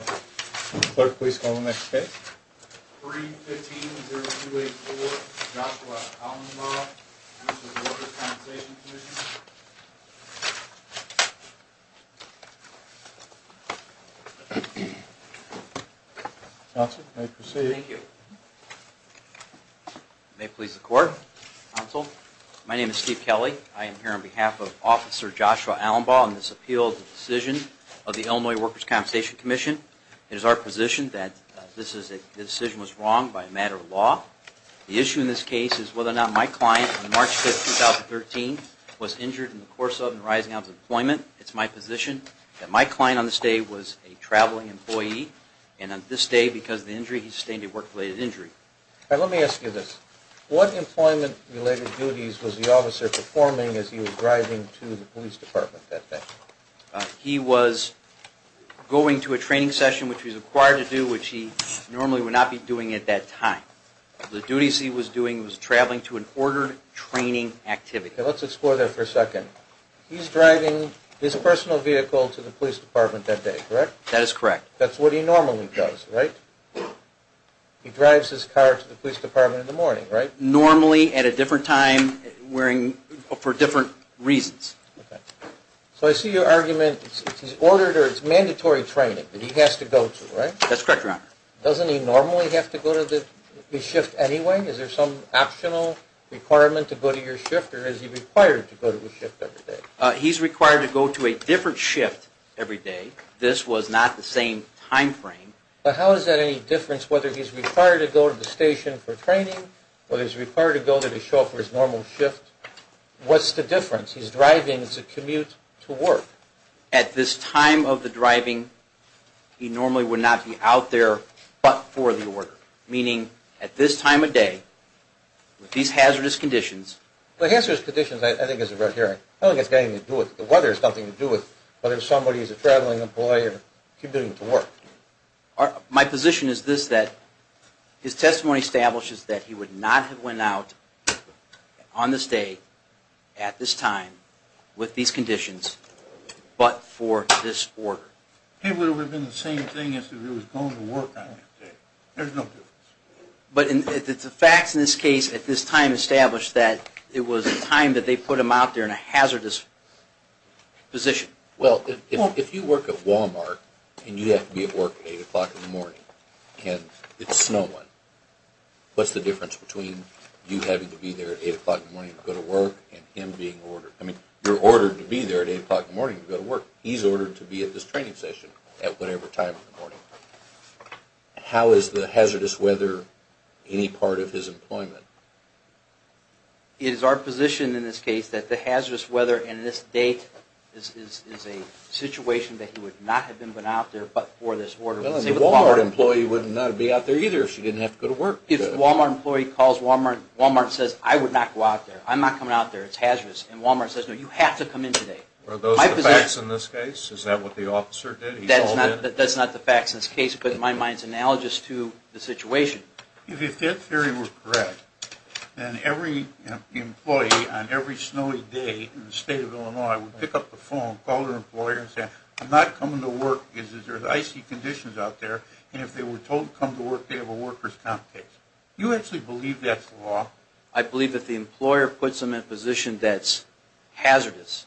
Clerk, please call the next case. 3-15-0284, Joshua Allenbaugh, Workers' Compensation Comm'n. Counsel, you may proceed. Thank you. May it please the Court. Counsel, my name is Steve Kelley. I am here on behalf of Officer Joshua Allenbaugh on this appeal of the decision of the Illinois Workers' Compensation Commission. It is our position that this decision was wrong by a matter of law. The issue in this case is whether or not my client, on March 5, 2013, was injured in the course of and rising out of employment. It's my position that my client on this day was a traveling employee, and on this day, because of the injury, he sustained a work-related injury. Let me ask you this. What employment-related duties was the officer performing as he was driving to the police department that day? He was going to a training session, which he was required to do, which he normally would not be doing at that time. The duties he was doing was traveling to an ordered training activity. Let's explore that for a second. He's driving his personal vehicle to the police department that day, correct? That is correct. That's what he normally does, right? He drives his car to the police department in the morning, right? Normally, at a different time, for different reasons. So I see your argument that he's ordered or it's mandatory training that he has to go to, right? That's correct, Your Honor. Doesn't he normally have to go to the shift anyway? Is there some optional requirement to go to your shift, or is he required to go to the shift every day? He's required to go to a different shift every day. This was not the same time frame. But how is that any different whether he's required to go to the station for training or he's required to go to the show for his normal shift? What's the difference? He's driving to commute to work. At this time of the driving, he normally would not be out there but for the order, meaning at this time of day, with these hazardous conditions... The weather has nothing to do with it, but if somebody's a traveling employer, he's going to work. My position is this, that his testimony establishes that he would not have went out on this day, at this time, with these conditions, but for this order. He would have been the same thing as if he was going to work on that day. There's no difference. But the facts in this case, at this time, establish that it was a time that they put him out there in a hazardous position. Well, if you work at Walmart and you have to be at work at 8 o'clock in the morning and it's snowing, what's the difference between you having to be there at 8 o'clock in the morning to go to work and him being ordered... I mean, you're ordered to be there at 8 o'clock in the morning to go to work. He's ordered to be at this training session at whatever time in the morning. How is the hazardous weather any part of his employment? It is our position in this case that the hazardous weather and this date is a situation that he would not have been out there but for this order. Well, and the Walmart employee would not be out there either if she didn't have to go to work. If the Walmart employee calls Walmart, Walmart says, I would not go out there. I'm not coming out there. It's hazardous. And Walmart says, no, you have to come in today. Are those the facts in this case? Is that what the officer did? That's not the facts in this case, but in my mind it's analogous to the situation. If that theory were correct, then every employee on every snowy day in the state of Illinois would pick up the phone, call their employer and say, I'm not coming to work because there's icy conditions out there. And if they were told to come to work, they have a worker's comp case. Do you actually believe that's the law? I believe if the employer puts them in a position that's hazardous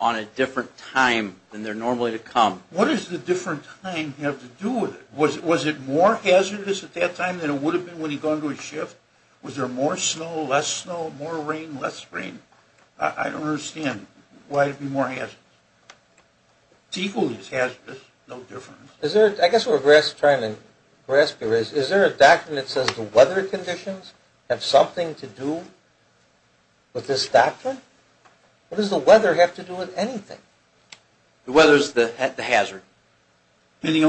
on a different time than they're normally to come. What does the different time have to do with it? Was it more hazardous at that time than it would have been when he'd gone to his shift? Was there more snow, less snow, more rain, less rain? I don't understand why it would be more hazardous. It's equally as hazardous, no difference. I guess what we're trying to grasp here is, is there a doctrine that says the weather conditions have something to do with this doctrine? What does the weather have to do with anything? The weather's the hazard. And the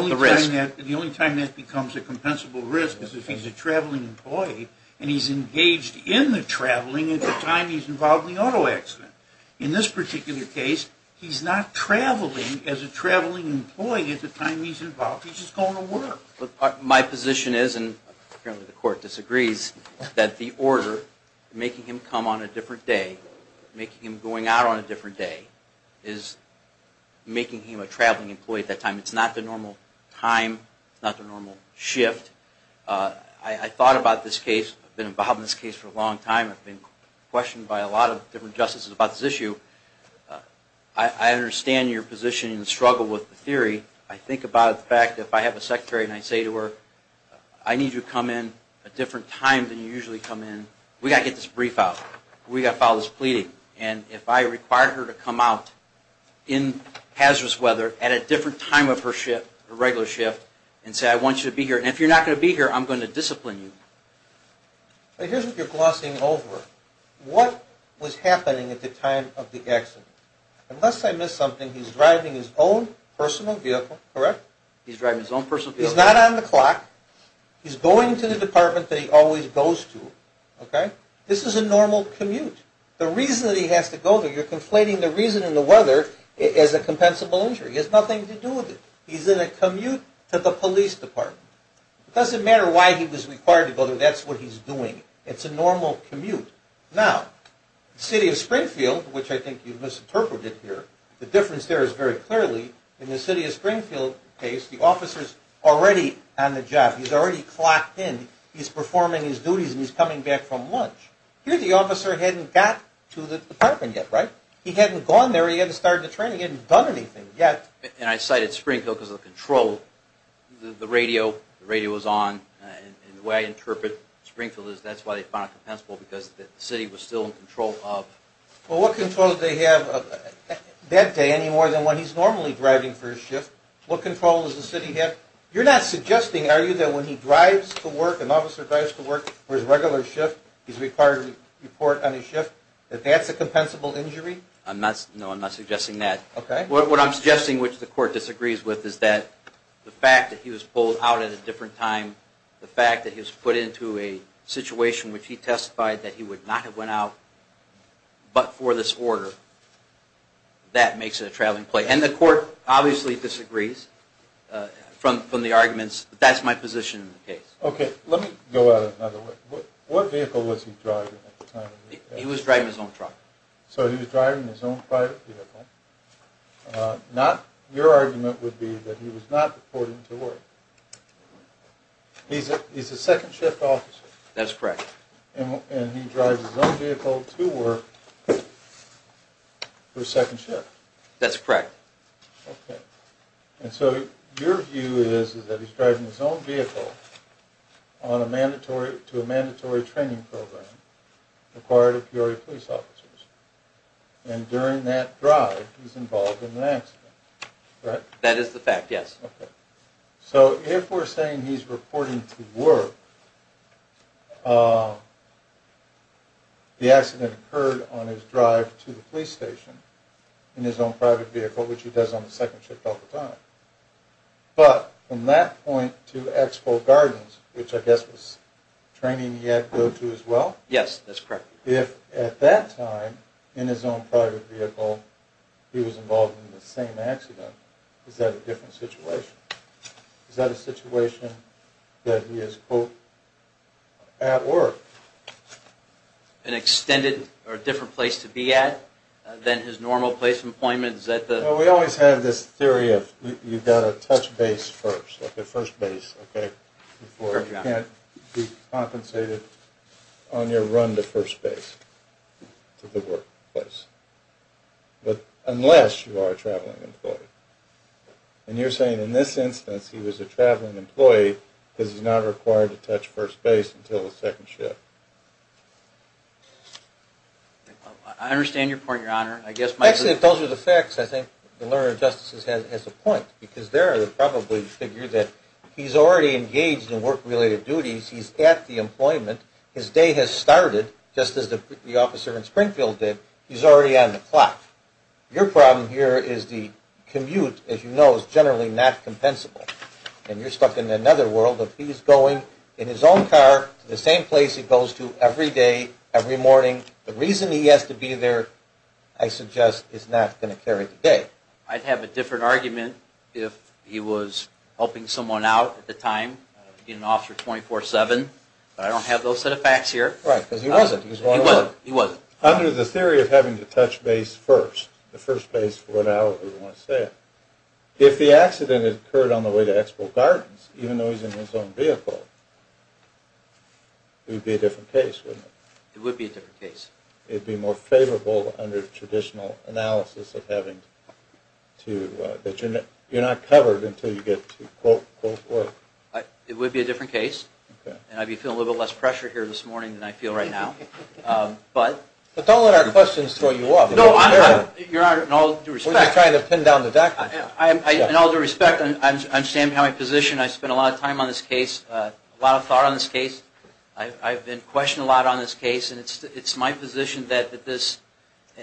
only time that becomes a compensable risk is if he's a traveling employee and he's engaged in the traveling at the time he's involved in the auto accident. In this particular case, he's not traveling as a traveling employee at the time he's involved, he's just going to work. My position is, and apparently the court disagrees, that the order making him come on a different day, making him going out on a different day, is making him a traveling employee at that time. It's not the normal time, it's not the normal shift. I thought about this case, I've been involved in this case for a long time, I've been questioned by a lot of different justices about this issue. I understand your position and struggle with the theory. I think about the fact that if I have a secretary and I say to her, I need you to come in a different time than you usually come in, we've got to get this brief out, we've got to file this pleading. And if I require her to come out in hazardous weather at a different time of her shift, her regular shift, and say I want you to be here, and if you're not going to be here, I'm going to discipline you. Here's what you're glossing over. What was happening at the time of the accident? Unless I missed something, he's driving his own personal vehicle, correct? He's driving his own personal vehicle. He's not on the clock, he's going to the department that he always goes to. This is a normal commute. The reason that he has to go there, you're conflating the reason and the weather as a compensable injury. It has nothing to do with it. He's in a commute to the police department. It doesn't matter why he was required to go there, that's what he's doing. It's a normal commute. Now, the city of Springfield, which I think you've misinterpreted here, the difference there is very clearly, in the city of Springfield case, the officer's already on the job. He's already clocked in, he's performing his duties, and he's coming back from lunch. Here the officer hadn't got to the department yet, right? He hadn't gone there, he hadn't started the training, he hadn't done anything yet. And I cited Springfield because of the control. The radio was on, and the way I interpret Springfield is that's why they found it compensable, because the city was still in control of... Well, what control did they have that day any more than when he's normally driving for his shift? What control does the city have? You're not suggesting, are you, that when he drives to work, an officer drives to work for his regular shift, he's required to report on his shift, that that's a compensable injury? No, I'm not suggesting that. What I'm suggesting, which the court disagrees with, is that the fact that he was pulled out at a different time, the fact that he was put into a situation in which he testified that he would not have went out but for this order, that makes it a traveling plate. And the court obviously disagrees from the arguments, but that's my position in the case. Okay, let me go out another way. What vehicle was he driving at the time? He was driving his own truck. So he was driving his own private vehicle. Your argument would be that he was not reporting to work. He's a second shift officer. That's correct. And he drives his own vehicle to work for second shift. That's correct. Okay. And so your view is that he's driving his own vehicle to a mandatory training program required of Peoria police officers. And during that drive, he's involved in an accident, right? That is the fact, yes. Okay. So if we're saying he's reporting to work, the accident occurred on his drive to the police station in his own private vehicle, which he does on the second shift all the time. But from that point to Expo Gardens, which I guess was training he had to go to as well? Yes, that's correct. If at that time in his own private vehicle he was involved in the same accident, is that a different situation? Is that a situation that he is, quote, at work? An extended or different place to be at than his normal place of employment? Well, we always have this theory of you've got to touch base first, like at first base, okay, before you can't be compensated on your run to first base, to the workplace. But unless you are a traveling employee. And you're saying in this instance he was a traveling employee because he's not required to touch first base until the second shift. I understand your point, Your Honor. Actually, if those were the facts, I think the learner of justice has a point. Because there they probably figure that he's already engaged in work-related duties. He's at the employment. His day has started, just as the officer in Springfield did. He's already on the clock. Your problem here is the commute, as you know, is generally not compensable. And you're stuck in another world of he's going in his own car to the same place he goes to every day, every morning. The reason he has to be there, I suggest, is not going to carry the day. I'd have a different argument if he was helping someone out at the time, being an officer 24-7. But I don't have those set of facts here. Right, because he wasn't. He wasn't. Under the theory of having to touch base first, the first base, whatever you want to say, if the accident had occurred on the way to Expo Gardens, even though he's in his own vehicle, it would be a different case, wouldn't it? It would be a different case. It would be more favorable under traditional analysis of having to, that you're not covered until you get to quote, quote, quote. It would be a different case. And I'd be feeling a little bit less pressure here this morning than I feel right now. But don't let our questions throw you off. No, Your Honor, in all due respect. We're just trying to pin down the doctor. In all due respect, I understand my position. I've been questioned a lot on this case, and it's my position that this,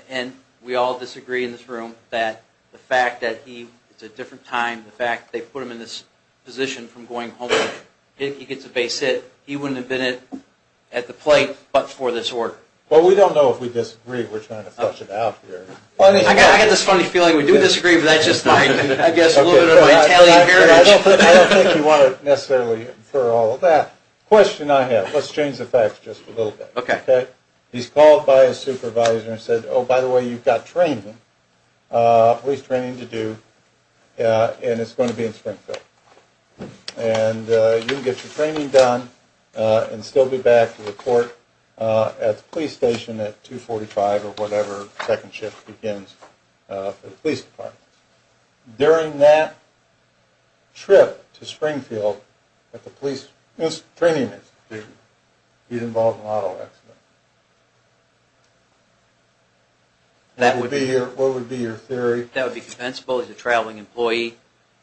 and we all disagree in this room, that the fact that he, it's a different time, the fact that they put him in this position from going home, if he gets a base hit, he wouldn't have been at the plate but for this work. Well, we don't know if we disagree. We're trying to flush it out here. I got this funny feeling we do disagree, but that's just my, I guess, a little bit of my Italian heritage. I don't think you want to necessarily infer all of that. The question I have, let's change the facts just a little bit. Okay. He's called by his supervisor and said, oh, by the way, you've got training, police training to do, and it's going to be in Springfield. And you can get your training done and still be back to report at the police station at 245 or whatever second shift begins for the police department. During that trip to Springfield at the police training institute, he's involved in an auto accident. That would be your, what would be your theory? That would be compensable. He's a traveling employee.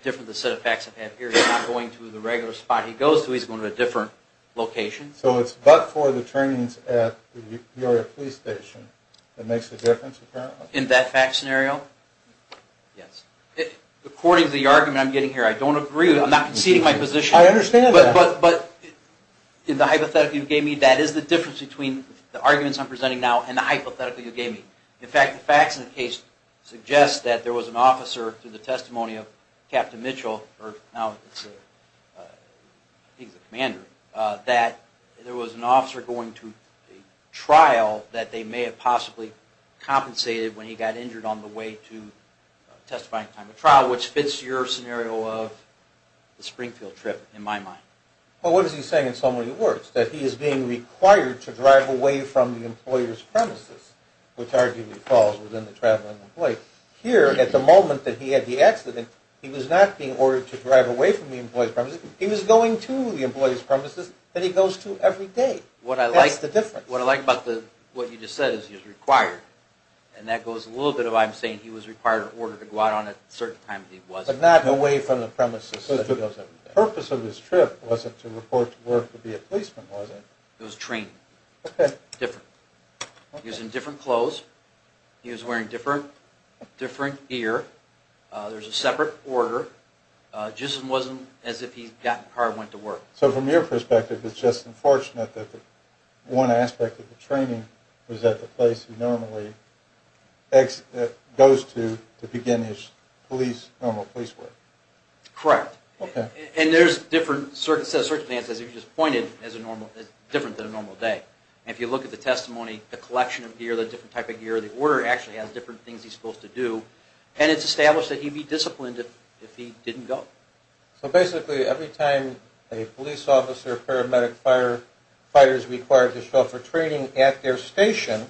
Different than the set of facts I've had here. He's not going to the regular spot he goes to. He's going to a different location. So it's but for the trainings at the Peoria police station that makes a difference, apparently. In that fact scenario? Yes. According to the argument I'm getting here, I don't agree. I'm not conceding my position. I understand that. But in the hypothetical you gave me, that is the difference between the arguments I'm presenting now and the hypothetical you gave me. In fact, the facts in the case suggest that there was an officer through the testimony of Captain Mitchell, or now he's a commander, that there was an officer going to a trial that they may have possibly compensated when he got injured on the way to testifying at the time of the trial, which fits your scenario of the Springfield trip, in my mind. Well, what is he saying in so many words? That he is being required to drive away from the employer's premises, which arguably falls within the traveling employee. Here, at the moment that he had the accident, he was not being ordered to drive away from the employer's premises. He was going to the employer's premises that he goes to every day. That's the difference. What I like about what you just said is he's required. And that goes a little bit of what I'm saying. He was required ordered to go out on a certain time that he wasn't. But not away from the premises that he goes every day. The purpose of his trip wasn't to report to work to be a policeman, was it? It was training. Okay. Different. He was in different clothes. He was wearing different gear. There was a separate order. It just wasn't as if he got in the car and went to work. So from your perspective, it's just unfortunate that one aspect of the training was at the place he normally goes to to begin his normal police work. Correct. Okay. And there's a different set of circumstances. You just pointed as different than a normal day. And if you look at the testimony, the collection of gear, the different type of gear, the order actually has different things he's supposed to do. And it's established that he'd be disciplined if he didn't go. So basically every time a police officer, paramedic, firefighters are required to show up for training at their station,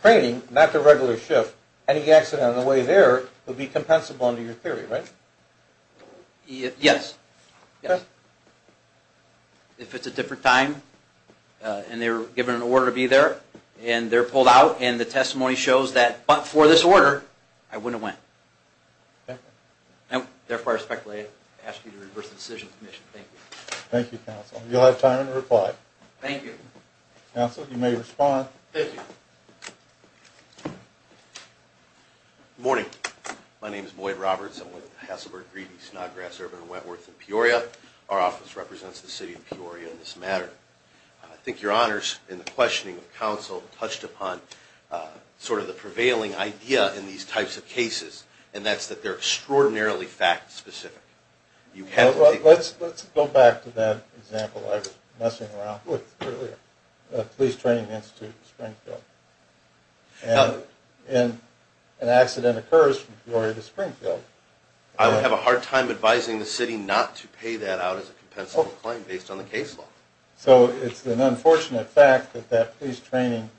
training, not the regular shift, any accident on the way there would be compensable under your theory, right? Yes. Okay. If it's a different time and they were given an order to be there and they're pulled out and the testimony shows that, but for this order, I wouldn't have went. Okay. And therefore, I respectfully ask you to reverse the decision, Commissioner. Thank you. Thank you, Counsel. You'll have time to reply. Thank you. Counsel, you may respond. Thank you. Good morning. My name is Boyd Roberts. I'm with the Hasselberg, Greedy, Snodgrass, Urban, and Wentworth in Peoria. Our office represents the city of Peoria in this matter. I think your honors in the questioning of counsel touched upon sort of the prevailing idea in these types of cases, and that's that they're extraordinarily fact specific. Let's go back to that example I was messing around with earlier, the Police Training Institute in Springfield. And an accident occurs from Peoria to Springfield. I would have a hard time advising the city not to pay that out as a compensable claim based on the case law. So it's an unfortunate fact that that police training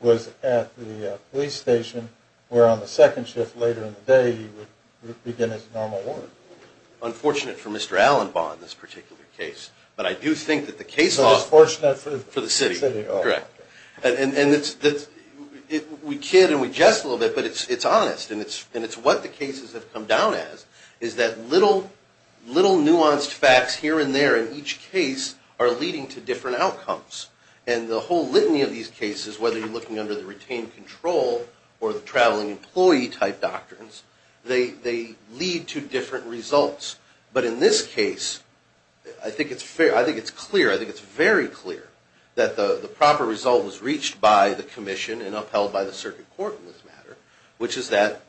was at the police station, where on the second shift later in the day, he would begin his normal work. Unfortunate for Mr. Allenbaugh in this particular case. But I do think that the case law… So it's fortunate for the city. Correct. And we kid and we jest a little bit, but it's honest. And it's what the cases have come down as, is that little nuanced facts here and there in each case are leading to different outcomes. And the whole litany of these cases, whether you're looking under the retained control or the traveling employee type doctrines, they lead to different results. But in this case, I think it's clear, I think it's very clear that the proper result was reached by the commission and upheld by the circuit court in this matter, which is that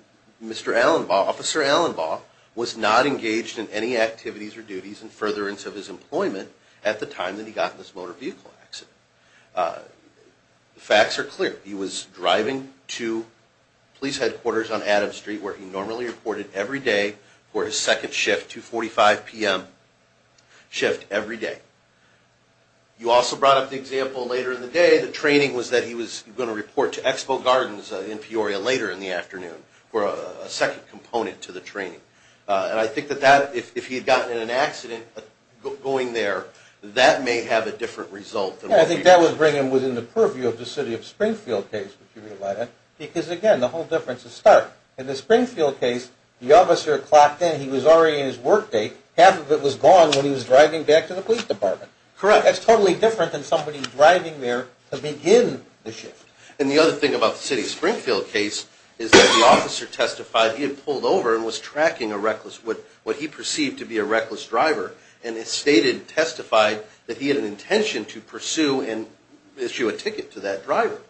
Mr. Allenbaugh, Officer Allenbaugh, was not engaged in any activities or duties in furtherance of his employment at the time that he got in this motor vehicle accident. The facts are clear. He was driving to police headquarters on Adams Street, where he normally reported every day for his second shift, 2.45 p.m. shift every day. You also brought up the example later in the day, the training was that he was going to report to Expo Gardens in Peoria later in the afternoon for a second component to the training. And I think that if he had gotten in an accident going there, that may have a different result. Yeah, I think that would bring him within the purview of the City of Springfield case, if you realize that. Because again, the whole difference is stark. In the Springfield case, the officer clocked in, he was already in his work day, half of it was gone when he was driving back to the police department. Correct. That's totally different than somebody driving there to begin the shift. And the other thing about the City of Springfield case is that the officer testified he had pulled over and was tracking a reckless, what he perceived to be a reckless driver, and testified that he had an intention to pursue and issue a ticket to that driver.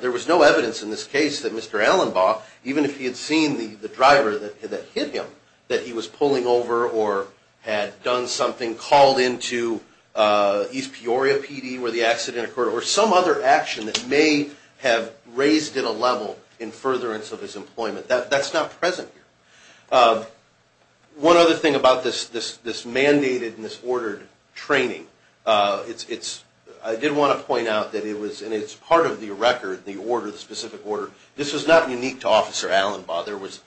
There was no evidence in this case that Mr. Allenbaugh, even if he had seen the driver that hit him, that he was pulling over or had done something, called into East Peoria PD where the accident occurred, or some other action that may have raised it a level in furtherance of his employment. That's not present here. One other thing about this mandated and this ordered training, I did want to point out that it's part of the record, the specific order. This was not unique to Officer Allenbaugh. There was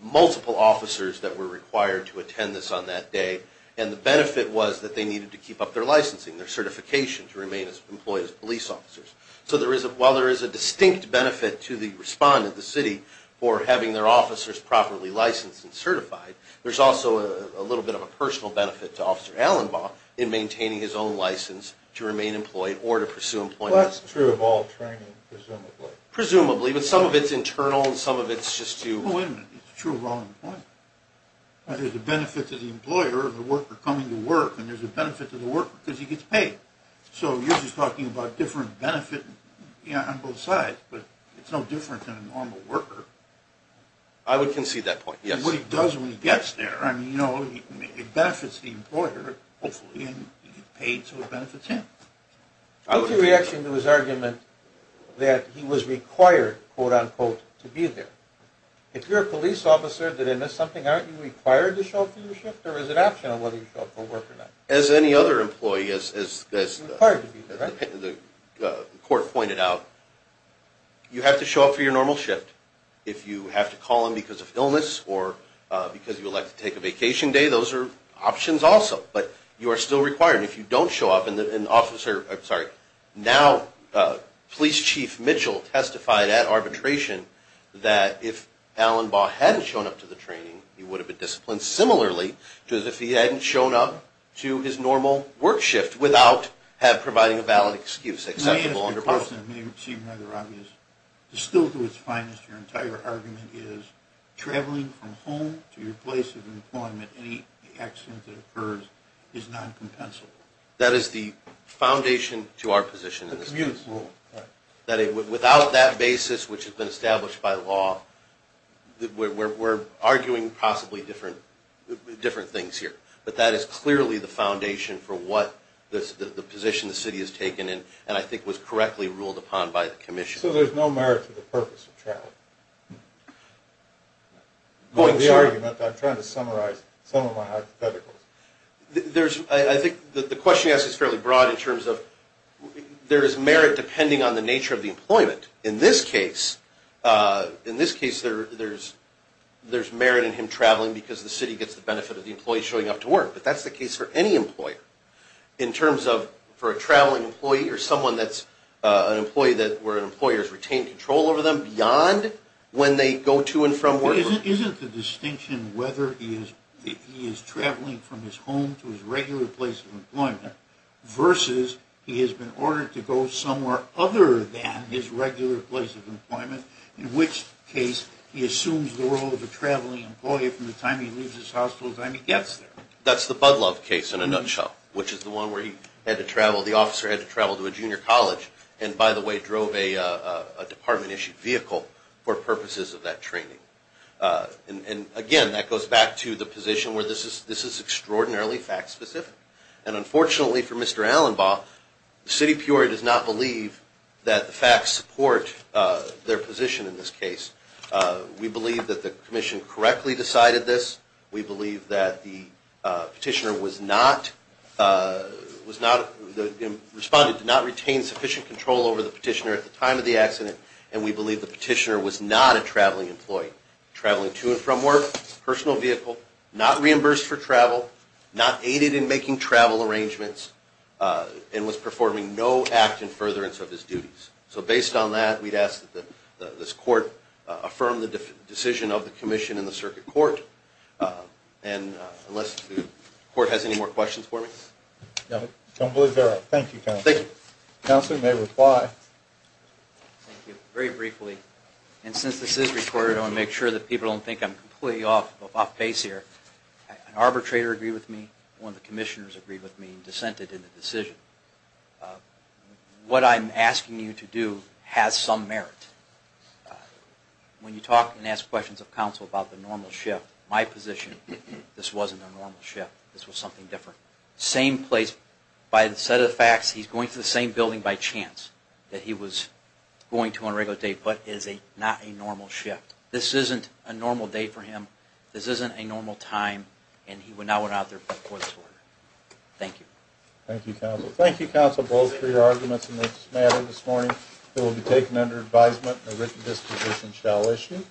multiple officers that were required to attend this on that day, and the benefit was that they needed to keep up their licensing, their certification to remain employed as police officers. So while there is a distinct benefit to the respondent, the city, for having their officers properly licensed and certified, there's also a little bit of a personal benefit to Officer Allenbaugh in maintaining his own license to remain employed or to pursue employment. Well, that's true of all training, presumably. Presumably, but some of it's internal and some of it's just to... Oh, wait a minute. It's true of all employment. There's a benefit to the employer of the worker coming to work, and there's a benefit to the worker because he gets paid. So you're just talking about different benefit on both sides, but it's no different than a normal worker. I would concede that point, yes. What he does when he gets there, I mean, you know, it benefits the employer, hopefully, and he gets paid so it benefits him. What's your reaction to his argument that he was required, quote-unquote, to be there? If you're a police officer, then isn't that something, aren't you required to show up for your shift, or is it optional whether you show up for work or not? As any other employee, as the court pointed out, you have to show up for your normal shift. If you have to call in because of illness or because you elect to take a vacation day, those are options also, but you are still required. If you don't show up and an officer, I'm sorry, now Police Chief Mitchell testified at arbitration that if Allenbaugh hadn't shown up to the training, he would have been disciplined similarly to if he hadn't shown up to his normal work shift without providing a valid excuse, acceptable under both. To me, as a person, it may seem rather obvious, distilled to its finest, your entire argument is traveling from home to your place of employment, any accident that occurs is non-compensable. That is the foundation to our position in this case. Without that basis, which has been established by law, we're arguing possibly different things here. But that is clearly the foundation for what the position the city has taken, and I think was correctly ruled upon by the Commission. So there's no merit to the purpose of travel? I'm trying to summarize some of my hypotheticals. I think the question you asked is fairly broad in terms of there is merit depending on the nature of the employment. In this case, there's merit in him traveling because the city gets the benefit of the employee showing up to work. But that's the case for any employer. In terms of for a traveling employee or someone that's an employee where an employer has retained control over them beyond when they go to and from work. Isn't the distinction whether he is traveling from his home to his regular place of employment, versus he has been ordered to go somewhere other than his regular place of employment, in which case he assumes the role of a traveling employee from the time he leaves his house till the time he gets there? That's the Budlove case in a nutshell, which is the one where the officer had to travel to a junior college, and by the way, drove a department-issued vehicle for purposes of that training. And again, that goes back to the position where this is extraordinarily fact-specific. And unfortunately for Mr. Allenbaugh, the city of Peoria does not believe that the facts support their position in this case. We believe that the Commission correctly decided this. We believe that the petitioner responded to not retain sufficient control over the petitioner at the time of the accident, and we believe the petitioner was not a traveling employee. Traveling to and from work, personal vehicle, not reimbursed for travel, not aided in making travel arrangements, and was performing no act in furtherance of his duties. So based on that, we'd ask that this Court affirm the decision of the Commission and the Circuit Court. And unless the Court has any more questions for me? No, I don't believe there are. Thank you, Counselor. Thank you. Counselor, you may reply. Thank you. Very briefly, and since this is recorded, I want to make sure that people don't think I'm completely off-base here. An arbitrator agreed with me, one of the Commissioners agreed with me, and dissented in the decision. What I'm asking you to do has some merit. When you talk and ask questions of Counsel about the normal shift, my position, this wasn't a normal shift. This was something different. Same place, by the set of facts, he's going to the same building by chance that he was going to on a regular day, but it is not a normal shift. This isn't a normal day for him, this isn't a normal time, and he would not want to be out there before this order. Thank you. Thank you, Counsel. Thank you, Counsel, both, for your arguments in this matter this morning. It will be taken under advisement, and a written disposition shall issue.